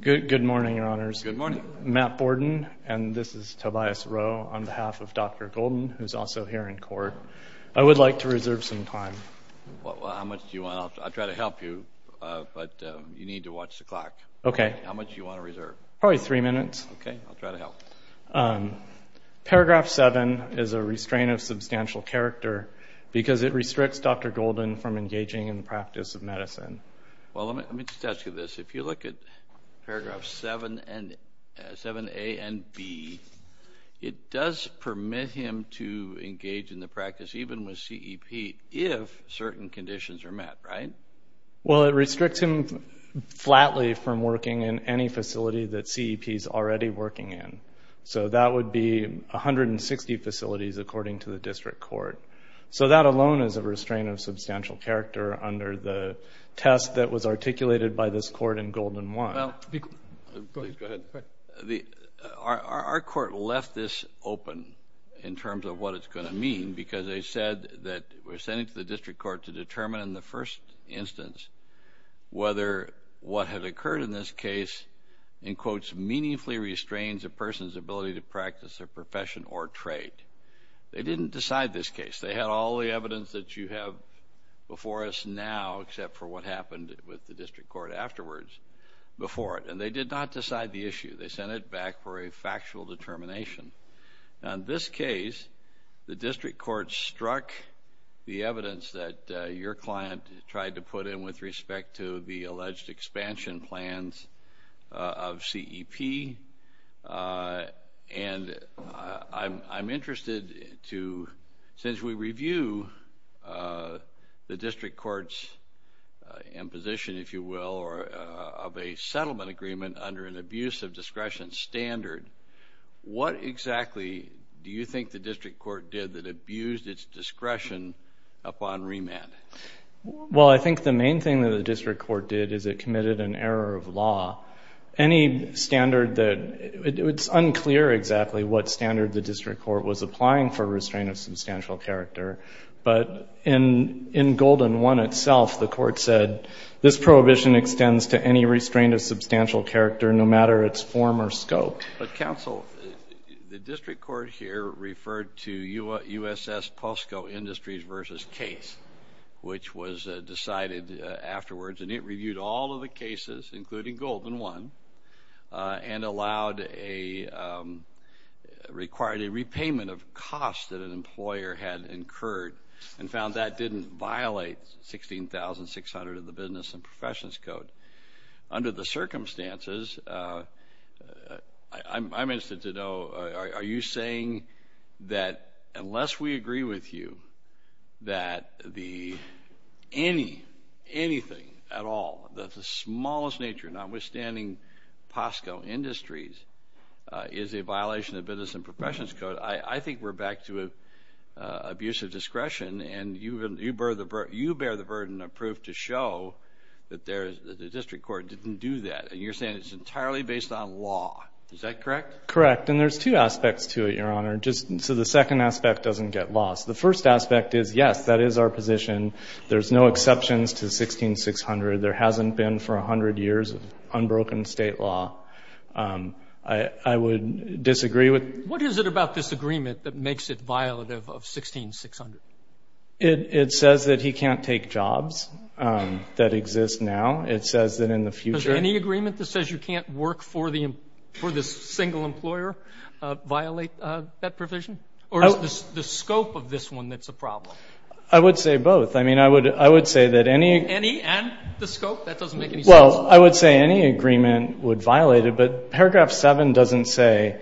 Good morning, Your Honors. Good morning. Matt Borden, and this is Tobias Rowe on behalf of Dr. Golden, who's also here in court. I would like to reserve some time. How much do you want? I'll try to help you, but you need to watch the clock. Okay. How much do you want to reserve? Probably three minutes. Okay, I'll try to help. Paragraph 7 is a restraint of substantial character because it restricts Dr. Golden from engaging in the practice of medicine. Well, let me just ask you this. If you look at paragraphs 7A and B, it does permit him to engage in the practice, even with CEP, if certain conditions are met, right? Well, it restricts him flatly from working in any facility that CEP is already working in. So that would be 160 facilities, according to the district court. So that alone is a restraint of substantial character under the test that was articulated by this court in Golden 1. Please go ahead. Our court left this open in terms of what it's going to mean because they said that we're sending it to the district court to determine in the first instance whether what had occurred in this case, in quotes, meaningfully restrains a person's ability to practice their profession or trade. They didn't decide this case. They had all the evidence that you have before us now, except for what happened with the district court afterwards before it. And they did not decide the issue. They sent it back for a factual determination. Now, in this case, the district court struck the evidence that your client tried to put in with respect to the alleged expansion plans of CEP. And I'm interested to, since we review the district court's imposition, if you will, of a settlement agreement under an abuse of discretion standard, what exactly do you think the district court did that abused its discretion upon remand? Well, I think the main thing that the district court did is it committed an error of law. Any standard that ‑‑ it's unclear exactly what standard the district court was applying for restraint of substantial character. But in Golden 1 itself, the court said, this prohibition extends to any restraint of substantial character, no matter its form or scope. But, counsel, the district court here referred to USS Posco Industries v. Case, which was decided afterwards. And it reviewed all of the cases, including Golden 1, and allowed a ‑‑ required a repayment of costs that an employer had incurred and found that didn't violate 16,600 of the Business and Professions Code. Under the circumstances, I'm interested to know, are you saying that unless we agree with you that the ‑‑ any, anything at all, that the smallest nature, notwithstanding Posco Industries, is a violation of Business and Professions Code, I think we're back to abuse of discretion. And you bear the burden of proof to show that the district court didn't do that. And you're saying it's entirely based on law. Is that correct? Correct. And there's two aspects to it, Your Honor. Just so the second aspect doesn't get lost. The first aspect is, yes, that is our position. There's no exceptions to 16,600. There hasn't been for 100 years of unbroken State law. I would disagree with ‑‑ What is it about this agreement that makes it violative of 16,600? It says that he can't take jobs that exist now. It says that in the future ‑‑ Does any agreement that says you can't work for this single employer violate that provision? Or is the scope of this one that's a problem? I would say both. I mean, I would say that any ‑‑ Any and the scope? That doesn't make any sense. Well, I would say any agreement would violate it. But Paragraph 7 doesn't say,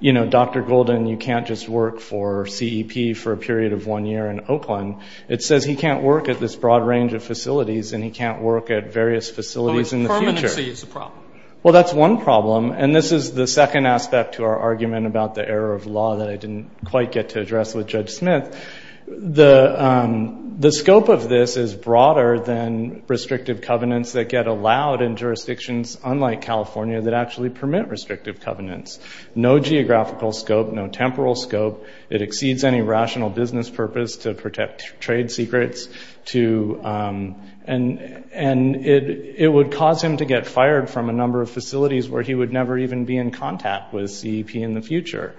you know, Dr. Golden, you can't just work for CEP for a period of one year in Oakland. It says he can't work at this broad range of facilities and he can't work at various facilities in the future. But permanency is a problem. Well, that's one problem. And this is the second aspect to our argument about the error of law that I didn't quite get to address with Judge Smith. The scope of this is broader than restrictive covenants that get allowed in jurisdictions, unlike California, that actually permit restrictive covenants. No geographical scope, no temporal scope. It exceeds any rational business purpose to protect trade secrets. And it would cause him to get fired from a number of facilities where he would never even be in contact with CEP in the future.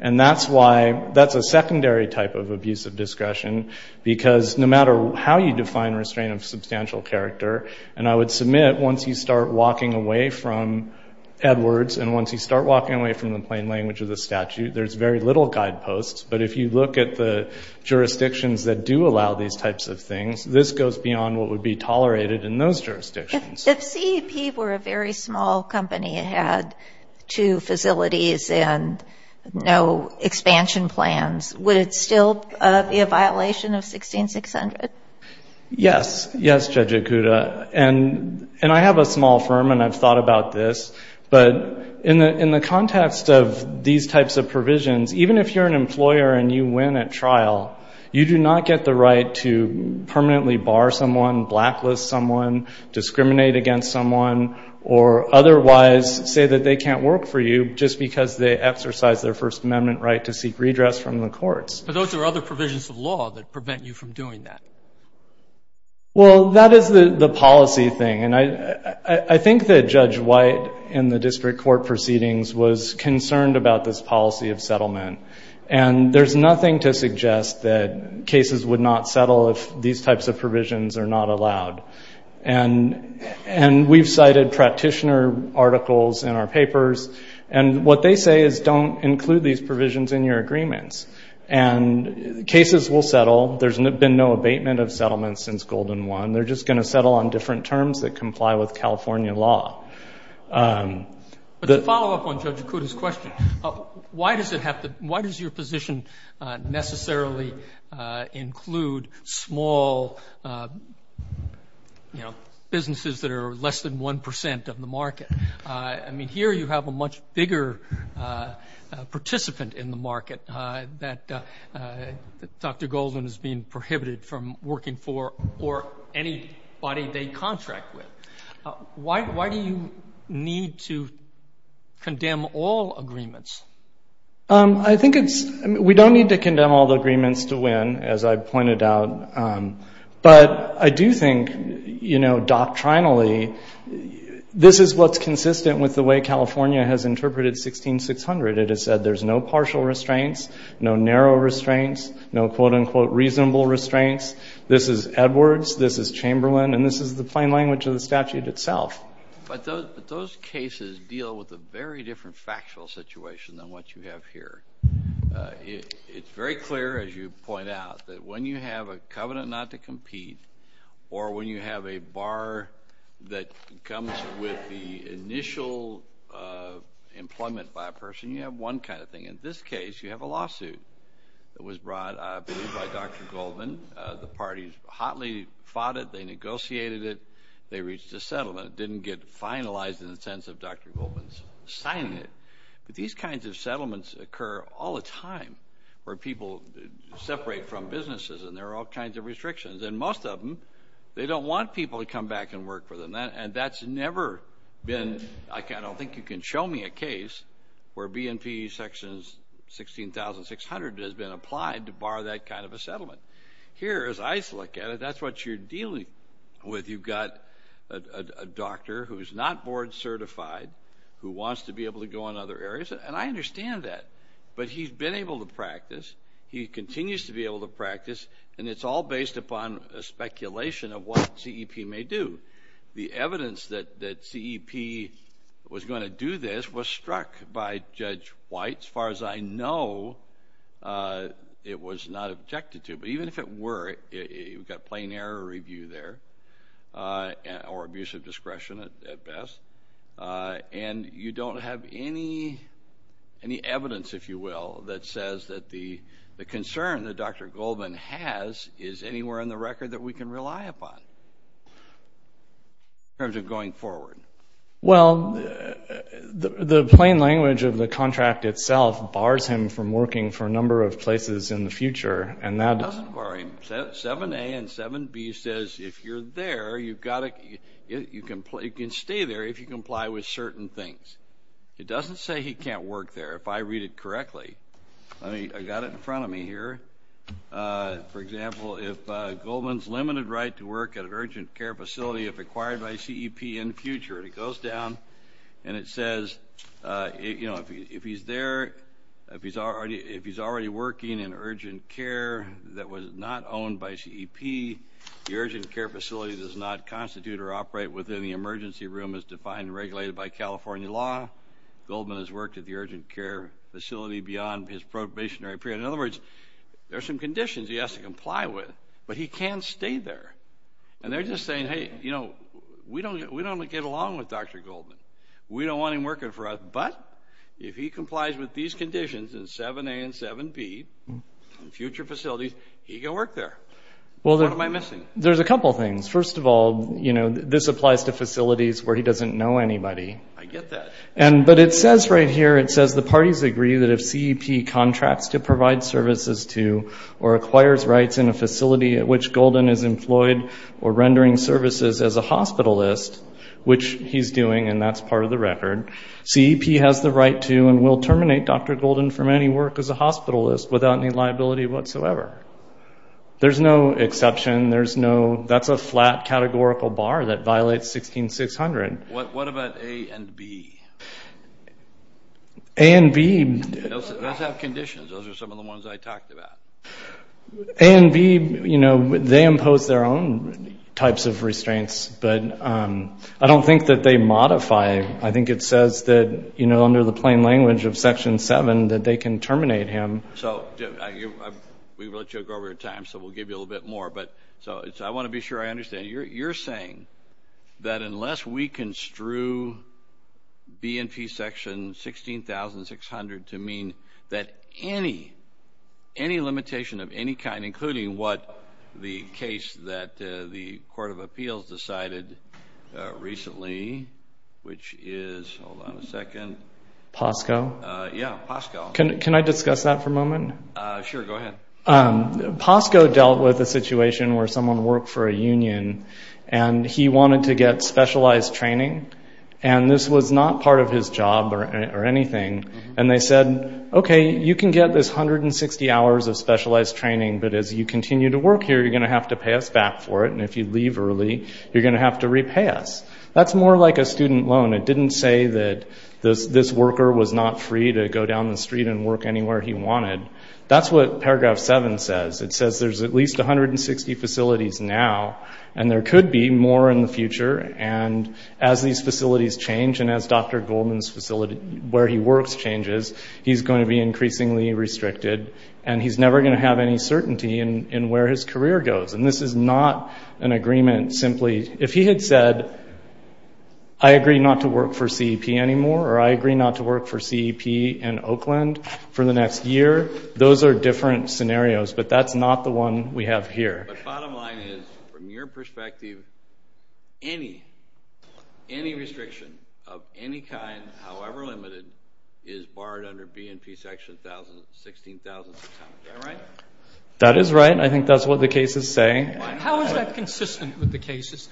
And that's why ‑‑ that's a secondary type of abuse of discretion. Because no matter how you define restraint of substantial character, and I would submit once you start walking away from Edwards and once you start walking away from the plain language of the statute, there's very little guideposts. But if you look at the jurisdictions that do allow these types of things, this goes beyond what would be tolerated in those jurisdictions. If CEP were a very small company and had two facilities and no expansion plans, would it still be a violation of 16600? Yes. Yes, Judge Ikuda. And I have a small firm and I've thought about this. But in the context of these types of provisions, even if you're an employer and you win at trial, you do not get the right to permanently bar someone, blacklist someone, discriminate against someone, or otherwise say that they can't work for you just because they exercised their First Amendment right to seek redress from the courts. But those are other provisions of law that prevent you from doing that. Well, that is the policy thing. And I think that Judge White in the district court proceedings was concerned about this policy of settlement. And there's nothing to suggest that cases would not settle if these types of provisions are not allowed. And we've cited practitioner articles in our papers. And what they say is don't include these provisions in your agreements. And cases will settle. There's been no abatement of settlements since Golden One. They're just going to settle on different terms that comply with California law. But to follow up on Judge Ikuda's question, why does your position necessarily include small businesses that are less than 1 percent of the market? I mean, here you have a much bigger participant in the market that Dr. Golden is being prohibited from working for or anybody they contract with. Why do you need to condemn all agreements? I think it's we don't need to condemn all the agreements to win, as I pointed out. But I do think, you know, doctrinally, this is what's consistent with the way California has interpreted 16600. It has said there's no partial restraints, no narrow restraints, no, quote, unquote, reasonable restraints. This is Edwards. This is Chamberlain. And this is the plain language of the statute itself. But those cases deal with a very different factual situation than what you have here. It's very clear, as you point out, that when you have a covenant not to compete or when you have a bar that comes with the initial employment by a person, you have one kind of thing. In this case, you have a lawsuit that was brought, I believe, by Dr. Goldman. The parties hotly fought it. They negotiated it. They reached a settlement. It didn't get finalized in the sense of Dr. Goldman signing it. But these kinds of settlements occur all the time where people separate from businesses, and there are all kinds of restrictions. And most of them, they don't want people to come back and work for them. And that's never been, like, I don't think you can show me a case where B&P Section 16,600 has been applied to bar that kind of a settlement. Here, as I look at it, that's what you're dealing with. You've got a doctor who is not board certified who wants to be able to go in other areas, and I understand that, but he's been able to practice, he continues to be able to practice, and it's all based upon a speculation of what CEP may do. The evidence that CEP was going to do this was struck by Judge White. As far as I know, it was not objected to. But even if it were, you've got plain error review there or abusive discretion at best, and you don't have any evidence, if you will, that says that the concern that Dr. Goldman has is anywhere in the record that we can rely upon in terms of going forward. Well, the plain language of the contract itself bars him from working for a number of places in the future. It doesn't bar him. 7A and 7B says if you're there, you can stay there if you comply with certain things. It doesn't say he can't work there. If I read it correctly, I got it in front of me here. For example, if Goldman's limited right to work at an urgent care facility if acquired by CEP in the future, it goes down and it says if he's already working in urgent care that was not owned by CEP, the urgent care facility does not constitute or operate within the emergency room as defined and regulated by California law. Goldman has worked at the urgent care facility beyond his probationary period. In other words, there are some conditions he has to comply with, but he can't stay there. And they're just saying, hey, you know, we don't get along with Dr. Goldman. We don't want him working for us, but if he complies with these conditions in 7A and 7B, in future facilities, he can work there. What am I missing? There's a couple things. First of all, you know, this applies to facilities where he doesn't know anybody. I get that. But it says right here, it says the parties agree that if CEP contracts to provide services to or acquires rights in a facility at which Goldman is employed or rendering services as a hospitalist, which he's doing and that's part of the record, CEP has the right to and will terminate Dr. Goldman from any work as a hospitalist without any liability whatsoever. There's no exception. That's a flat categorical bar that violates 16600. What about A and B? A and B. Those have conditions. Those are some of the ones I talked about. A and B, you know, they impose their own types of restraints, but I don't think that they modify. I think it says that, you know, under the plain language of Section 7 that they can terminate him. So we've let you go over your time, so we'll give you a little bit more. But I want to be sure I understand. You're saying that unless we construe B and P Section 16600 to mean that any limitation of any kind, including what the case that the Court of Appeals decided recently, which is, hold on a second. POSCO? Yeah, POSCO. Can I discuss that for a moment? Sure, go ahead. POSCO dealt with a situation where someone worked for a union, and he wanted to get specialized training, and this was not part of his job or anything. And they said, okay, you can get this 160 hours of specialized training, but as you continue to work here, you're going to have to pay us back for it, and if you leave early, you're going to have to repay us. That's more like a student loan. It didn't say that this worker was not free to go down the street and work anywhere he wanted. That's what Paragraph 7 says. It says there's at least 160 facilities now, and there could be more in the future, and as these facilities change and as Dr. Goldman's facility where he works changes, he's going to be increasingly restricted, and he's never going to have any certainty in where his career goes. And this is not an agreement simply. If he had said, I agree not to work for CEP anymore, or I agree not to work for CEP in Oakland for the next year, those are different scenarios, but that's not the one we have here. But bottom line is, from your perspective, any restriction of any kind, however limited, is barred under B&P Section 16,000. Is that right? That is right, and I think that's what the case is saying. How is that consistent with the cases?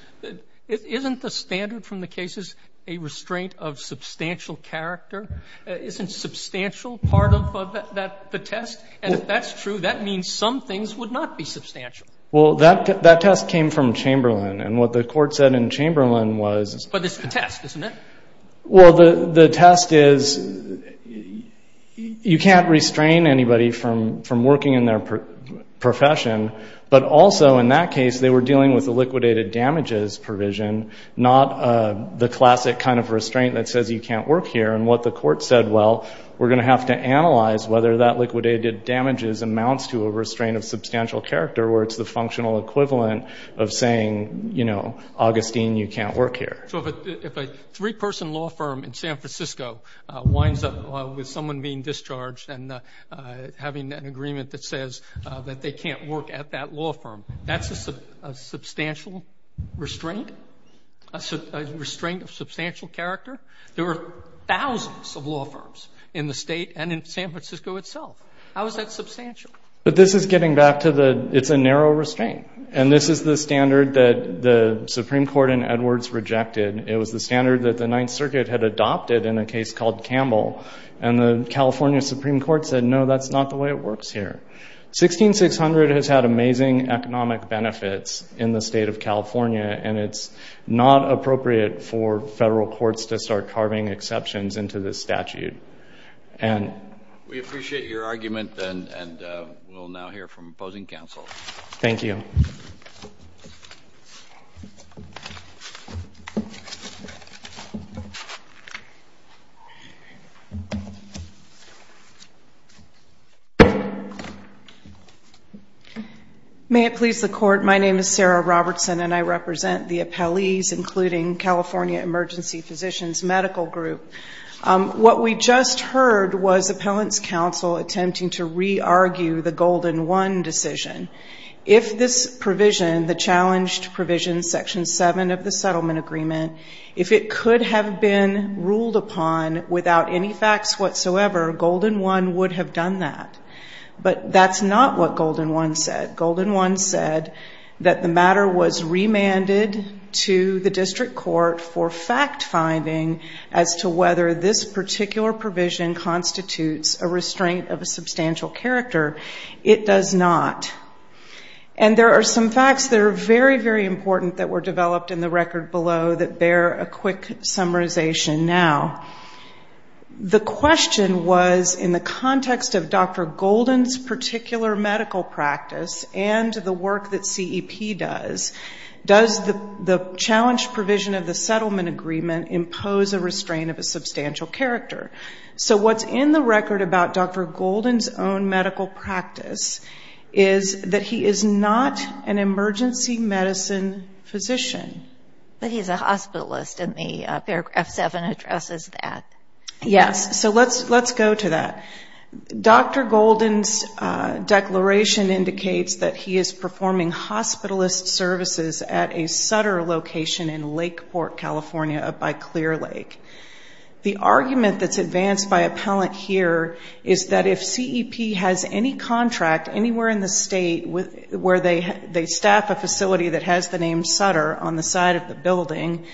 Isn't the standard from the cases a restraint of substantial character? Isn't substantial part of the test? And if that's true, that means some things would not be substantial. Well, that test came from Chamberlain, and what the Court said in Chamberlain was the test. Well, the test is you can't restrain anybody from working in their profession, but also in that case they were dealing with a liquidated damages provision, not the classic kind of restraint that says you can't work here. And what the Court said, well, we're going to have to analyze whether that liquidated damages amounts to a restraint of substantial character, where it's the functional equivalent of saying, you know, Augustine, you can't work here. So if a three-person law firm in San Francisco winds up with someone being discharged and having an agreement that says that they can't work at that law firm, that's a substantial restraint, a restraint of substantial character. There are thousands of law firms in the State and in San Francisco itself. How is that substantial? But this is getting back to the it's a narrow restraint, and this is the standard that the Supreme Court in Edwards rejected. It was the standard that the Ninth Circuit had adopted in a case called Campbell, and the California Supreme Court said, no, that's not the way it works here. 16600 has had amazing economic benefits in the State of California, and it's not appropriate for federal courts to start carving exceptions into this statute. We appreciate your argument, and we'll now hear from opposing counsel. Thank you. May it please the Court, my name is Sarah Robertson, and I represent the appellees including California Emergency Physicians Medical Group. What we just heard was appellant's counsel attempting to re-argue the Golden 1 decision. If this provision, the challenged provision, Section 7 of the Settlement Agreement, if it could have been ruled upon without any facts whatsoever, Golden 1 would have done that. But that's not what Golden 1 said. Golden 1 said that the matter was remanded to the district court for fact finding as to whether this particular provision constitutes a restraint of a substantial character. It does not. And there are some facts that are very, very important that were developed in the record below that bear a quick summarization now. The question was in the context of Dr. Golden's particular medical practice and the work that CEP does, does the challenged provision of the Settlement Agreement impose a restraint of a substantial character? So what's in the record about Dr. Golden's own medical practice is that he is not an emergency medicine physician. But he's a hospitalist, and the paragraph 7 addresses that. Yes. So let's go to that. Dr. Golden's declaration indicates that he is performing hospitalist services at a Sutter location in Lakeport, California up by Clear Lake. The argument that's advanced by appellant here is that if CEP has any contract anywhere in the state where they staff a facility that has the name Sutter on the side of the building,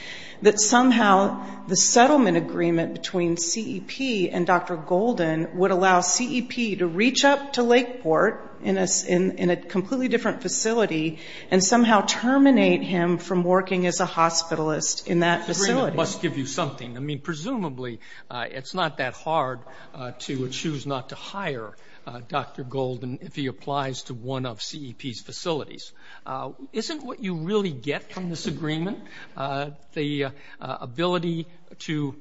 that somehow the Settlement Agreement between CEP and Dr. Golden would allow CEP to reach up to Lakeport in a completely different facility and somehow terminate him from working as a hospitalist in that facility. It must give you something. I mean, presumably it's not that hard to choose not to hire Dr. Golden if he applies to one of CEP's facilities. Isn't what you really get from this agreement the ability to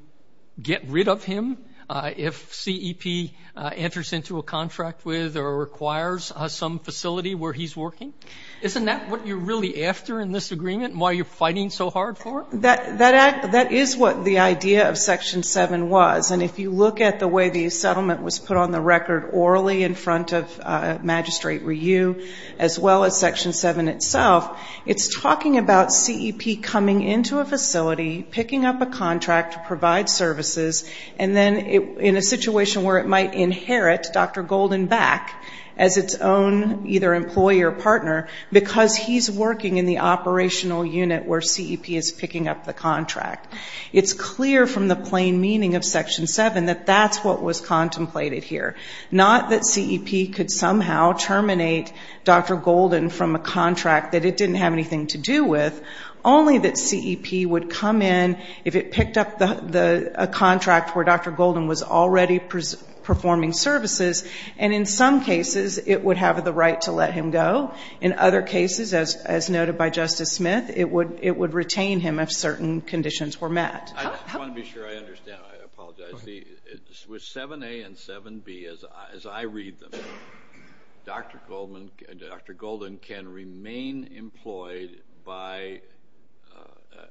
get rid of him if CEP enters into a contract with or requires some facility where he's working? Isn't that what you're really after in this agreement and why you're fighting so hard for it? That is what the idea of Section 7 was. And if you look at the way the settlement was put on the record orally in front of Magistrate Ryu as well as Section 7 itself, it's talking about CEP coming into a facility, picking up a contract to provide services, and then in a situation where it might inherit Dr. Golden back as its own either employee or partner because he's working in the operational unit where CEP is picking up the contract. It's clear from the plain meaning of Section 7 that that's what was contemplated here. Not that CEP could somehow terminate Dr. Golden from a contract that it didn't have anything to do with, only that CEP would come in if it picked up a contract where Dr. Golden was already performing services, and in some cases it would have the right to let him go. In other cases, as noted by Justice Smith, it would retain him if certain conditions were met. I just want to be sure I understand. I apologize. With 7A and 7B, as I read them, Dr. Golden can remain employed by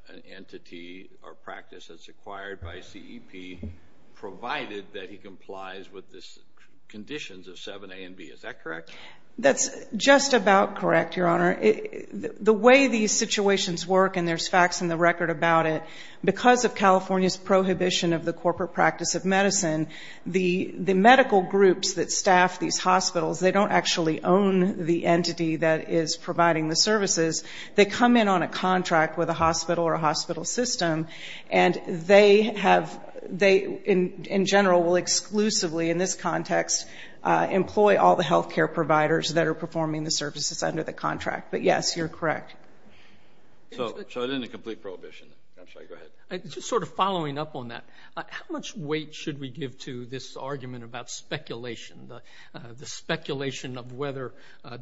an entity or practice that's acquired by CEP provided that he complies with the conditions of 7A and 7B. Is that correct? That's just about correct, Your Honor. The way these situations work, and there's facts in the record about it, because of California's prohibition of the corporate practice of medicine, the medical groups that staff these hospitals, they don't actually own the entity that is providing the services. They come in on a contract with a hospital or a hospital system, and they, in general, will exclusively, in this context, employ all the health care providers that are performing the services under the contract. But, yes, you're correct. So it isn't a complete prohibition. I'm sorry. Go ahead. Just sort of following up on that, how much weight should we give to this argument about speculation, the speculation of whether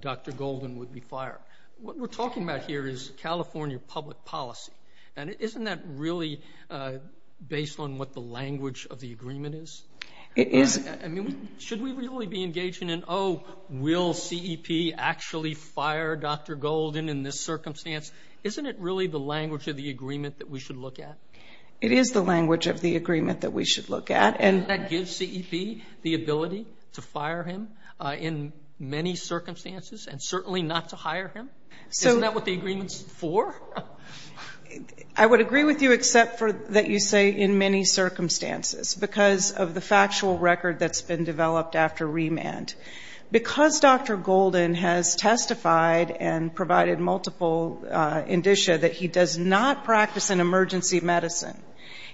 Dr. Golden would be fired? What we're talking about here is California public policy, and isn't that really based on what the language of the agreement is? It is. I mean, should we really be engaging in, oh, will CEP actually fire Dr. Golden in this circumstance? Isn't it really the language of the agreement that we should look at? It is the language of the agreement that we should look at. Doesn't that give CEP the ability to fire him in many circumstances, and certainly not to hire him? Isn't that what the agreement is for? I would agree with you, except that you say in many circumstances, because of the factual record that's been developed after remand. Because Dr. Golden has testified and provided multiple indicia that he does not practice an emergency medicine,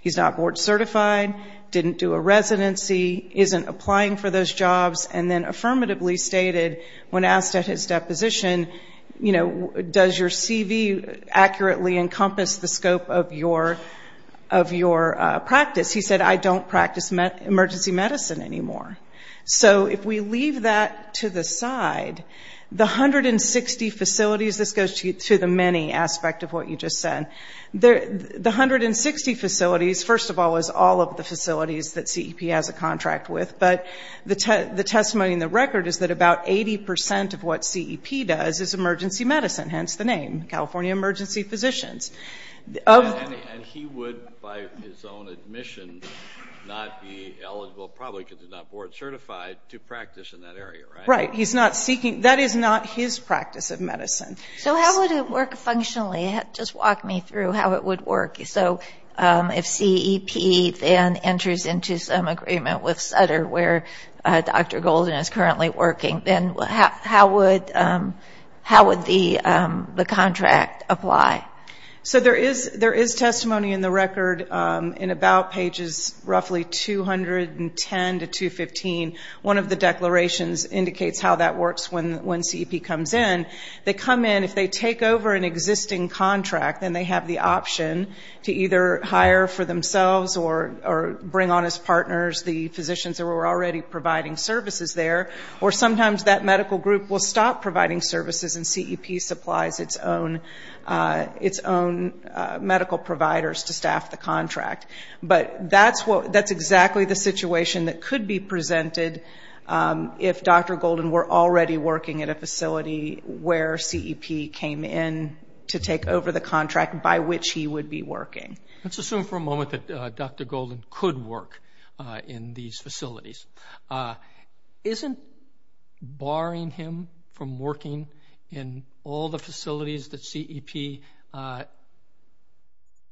he's not board certified, didn't do a residency, isn't applying for those jobs, and then affirmatively stated when asked at his deposition, you know, does your CV accurately encompass the scope of your practice? He said, I don't practice emergency medicine anymore. So if we leave that to the side, the 160 facilities, this goes to the many aspect of what you just said, the 160 facilities, first of all, is all of the facilities that CEP has a contract with, but the testimony in the record is that about 80% of what CEP does is emergency medicine, hence the name, California Emergency Physicians. And he would, by his own admission, not be eligible, probably because he's not board certified, to practice in that area, right? Right. That is not his practice of medicine. So how would it work functionally? Just walk me through how it would work. So if CEP then enters into some agreement with Sutter, where Dr. Golden is currently working, then how would the contract apply? So there is testimony in the record in about pages roughly 210 to 215. One of the declarations indicates how that works when CEP comes in. They come in, if they take over an existing contract, then they have the option to either hire for themselves or bring on as partners the physicians who are already providing services there, or sometimes that medical group will stop providing services and CEP supplies its own medical providers to staff the contract. But that's exactly the situation that could be presented if Dr. Golden were already working at a facility where CEP came in to take over the contract by which he would be working. Let's assume for a moment that Dr. Golden could work in these facilities. Isn't barring him from working in all the facilities that CEP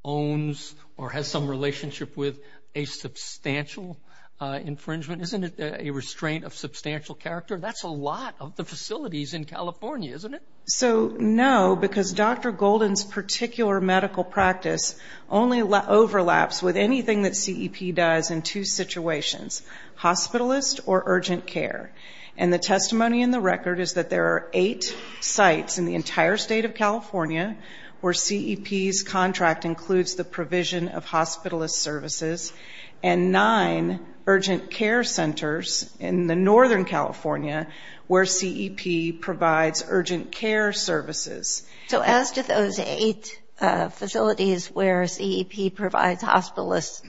owns or has some relationship with a substantial infringement? Isn't it a restraint of substantial character? That's a lot of the facilities in California, isn't it? So no, because Dr. Golden's particular medical practice only overlaps with anything that CEP does in two situations, hospitalist or urgent care. And the testimony in the record is that there are eight sites in the entire state of California where CEP's contract includes the provision of hospitalist services and nine urgent care centers in the northern California where CEP provides urgent care services. So as to those eight facilities where CEP provides hospitalist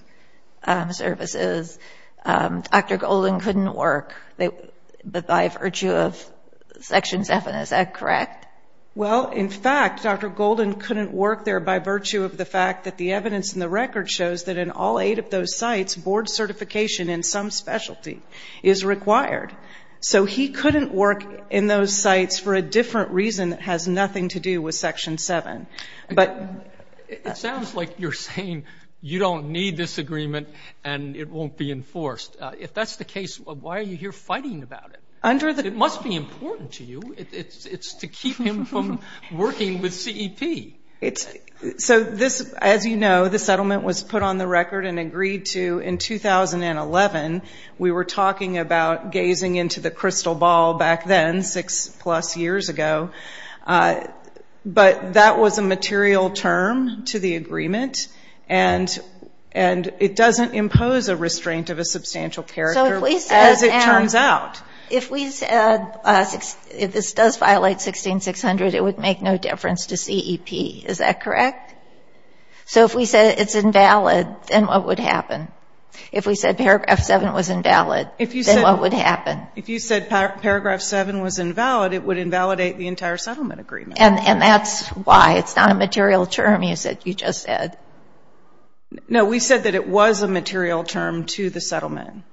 services, Dr. Golden couldn't work, but by virtue of Section 7, is that correct? Well, in fact, Dr. Golden couldn't work there by virtue of the fact that the evidence in the record shows that in all eight of those sites, board certification in some specialty is required. So he couldn't work in those sites for a different reason that has nothing to do with Section 7. It sounds like you're saying you don't need this agreement and it won't be enforced. If that's the case, why are you here fighting about it? It must be important to you. It's to keep him from working with CEP. So, as you know, the settlement was put on the record and agreed to in 2011. We were talking about gazing into the crystal ball back then, six-plus years ago. But that was a material term to the agreement, and it doesn't impose a restraint of a substantial character, as it turns out. If we said this does violate 16600, it would make no difference to CEP. Is that correct? So if we said it's invalid, then what would happen? If we said Paragraph 7 was invalid, then what would happen? If you said Paragraph 7 was invalid, it would invalidate the entire settlement agreement. And that's why. It's not a material term you just said. No, we said that it was a material term to the settlement.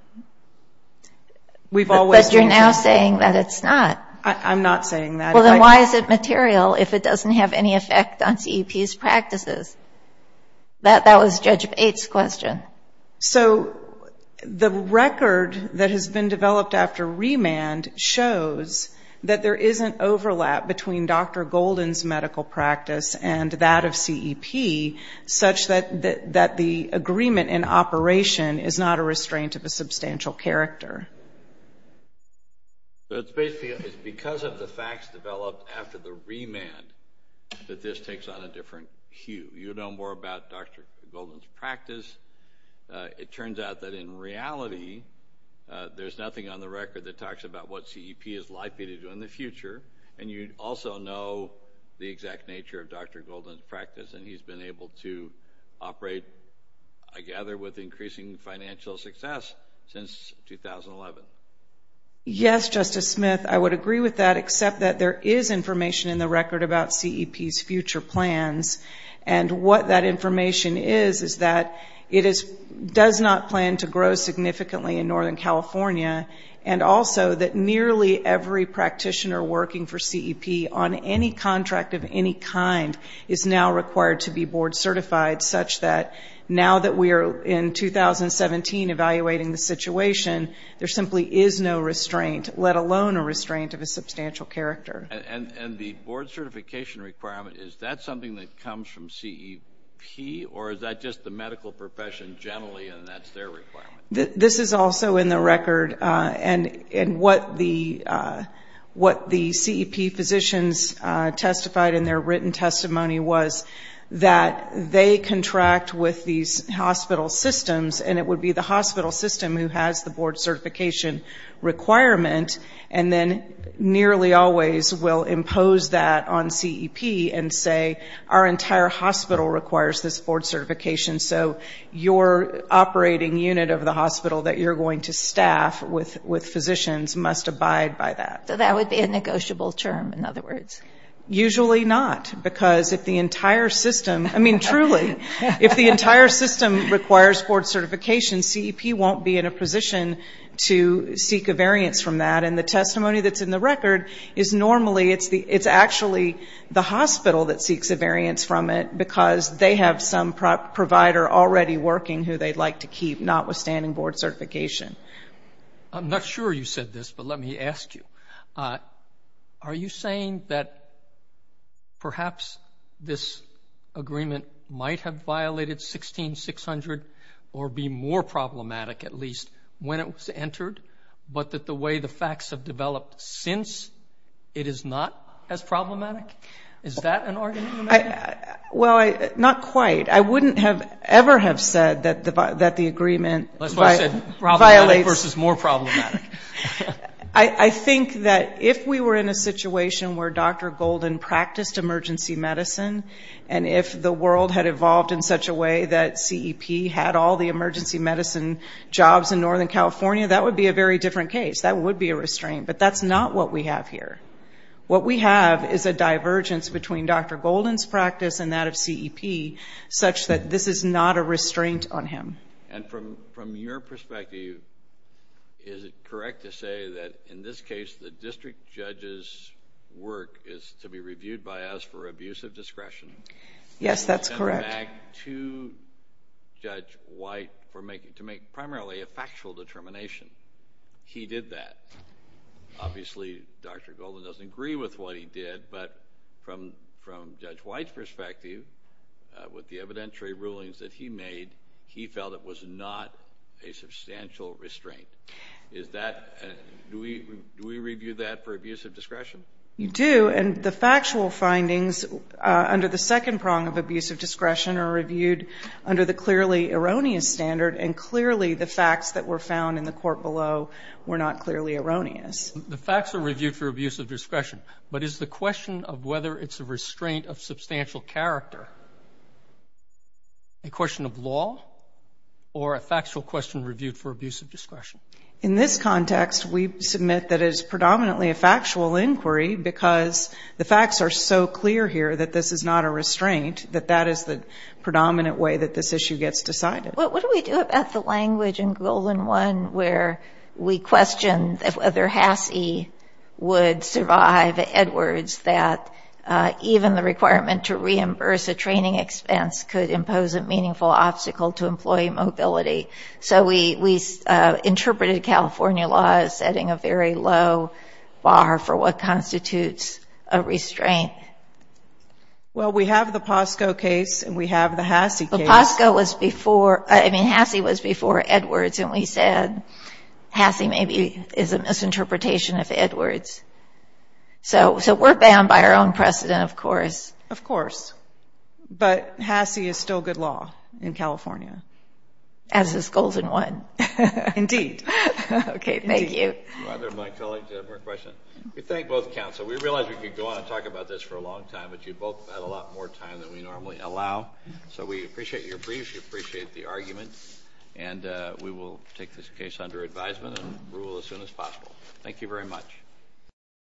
But you're now saying that it's not. I'm not saying that. Well, then why is it material if it doesn't have any effect on CEP's practices? That was Judge Bates' question. So the record that has been developed after remand shows that there isn't overlap between Dr. Golden's medical practice and that of CEP, such that the agreement in operation is not a restraint of a substantial character. So it's basically because of the facts developed after the remand that this takes on a different hue. You know more about Dr. Golden's practice. It turns out that in reality there's nothing on the record that talks about what CEP is likely to do in the future, and you also know the exact nature of Dr. Golden's practice, and he's been able to operate, I gather, with increasing financial success since 2011. Yes, Justice Smith, I would agree with that, except that there is information in the record about CEP's future plans. And what that information is is that it does not plan to grow significantly in Northern California, and also that nearly every practitioner working for CEP on any contract of any kind is now required to be board certified, such that now that we are in 2017 evaluating the situation, there simply is no restraint, let alone a restraint of a substantial character. And the board certification requirement, is that something that comes from CEP, or is that just the medical profession generally and that's their requirement? This is also in the record. And what the CEP physicians testified in their written testimony was that they contract with these hospital systems, and it would be the hospital system who has the board certification requirement, and then nearly always will impose that on CEP and say our entire hospital requires this board certification, so your operating unit of the hospital that you're going to staff with physicians must abide by that. So that would be a negotiable term, in other words? Usually not, because if the entire system, I mean truly, if the entire system requires board certification, CEP won't be in a position to seek a variance from that, and the testimony that's in the record is normally, it's actually the hospital that seeks a variance from it, because they have some provider already working who they'd like to keep notwithstanding board certification. I'm not sure you said this, but let me ask you. Are you saying that perhaps this agreement might have violated 16-600 or be more problematic at least when it was entered, but that the way the facts have developed since, it is not as problematic? Is that an argument? Well, not quite. I wouldn't have ever have said that the agreement violates. That's why I said problematic versus more problematic. I think that if we were in a situation where Dr. Golden practiced emergency medicine and if the world had evolved in such a way that CEP had all the emergency medicine jobs in Northern California, that would be a very different case. That would be a restraint, but that's not what we have here. What we have is a divergence between Dr. Golden's practice and that of CEP, such that this is not a restraint on him. And from your perspective, is it correct to say that in this case, the district judge's work is to be reviewed by us for abuse of discretion? Yes, that's correct. To send it back to Judge White to make primarily a factual determination. He did that. Obviously, Dr. Golden doesn't agree with what he did, but from Judge White's perspective, with the evidentiary rulings that he made, he felt it was not a substantial restraint. Do we review that for abuse of discretion? You do, and the factual findings under the second prong of abuse of discretion are reviewed under the clearly erroneous standard, and clearly the facts that were found in the court below were not clearly erroneous. The facts are reviewed for abuse of discretion, but is the question of whether it's a restraint of substantial character a question of law or a factual question reviewed for abuse of discretion? In this context, we submit that it is predominantly a factual inquiry because the facts are so clear here that this is not a restraint, that that is the predominant way that this issue gets decided. What do we do about the language in Golden 1 where we question whether Hasse would survive Edwards, that even the requirement to reimburse a training expense could impose a meaningful obstacle to employee mobility? So we interpreted California law as setting a very low bar for what constitutes a restraint. Well, we have the POSCO case and we have the Hasse case. POSCO was before, I mean, Hasse was before Edwards, and we said Hasse maybe is a misinterpretation of Edwards. So we're bound by our own precedent, of course. Of course. But Hasse is still good law in California. As is Golden 1. Indeed. Okay. Thank you. My colleagues have more questions. We thank both counsel. We realized we could go on and talk about this for a long time, but you both had a lot more time than we normally allow, so we appreciate your briefs, we appreciate the arguments, and we will take this case under advisement and rule as soon as possible. Thank you very much.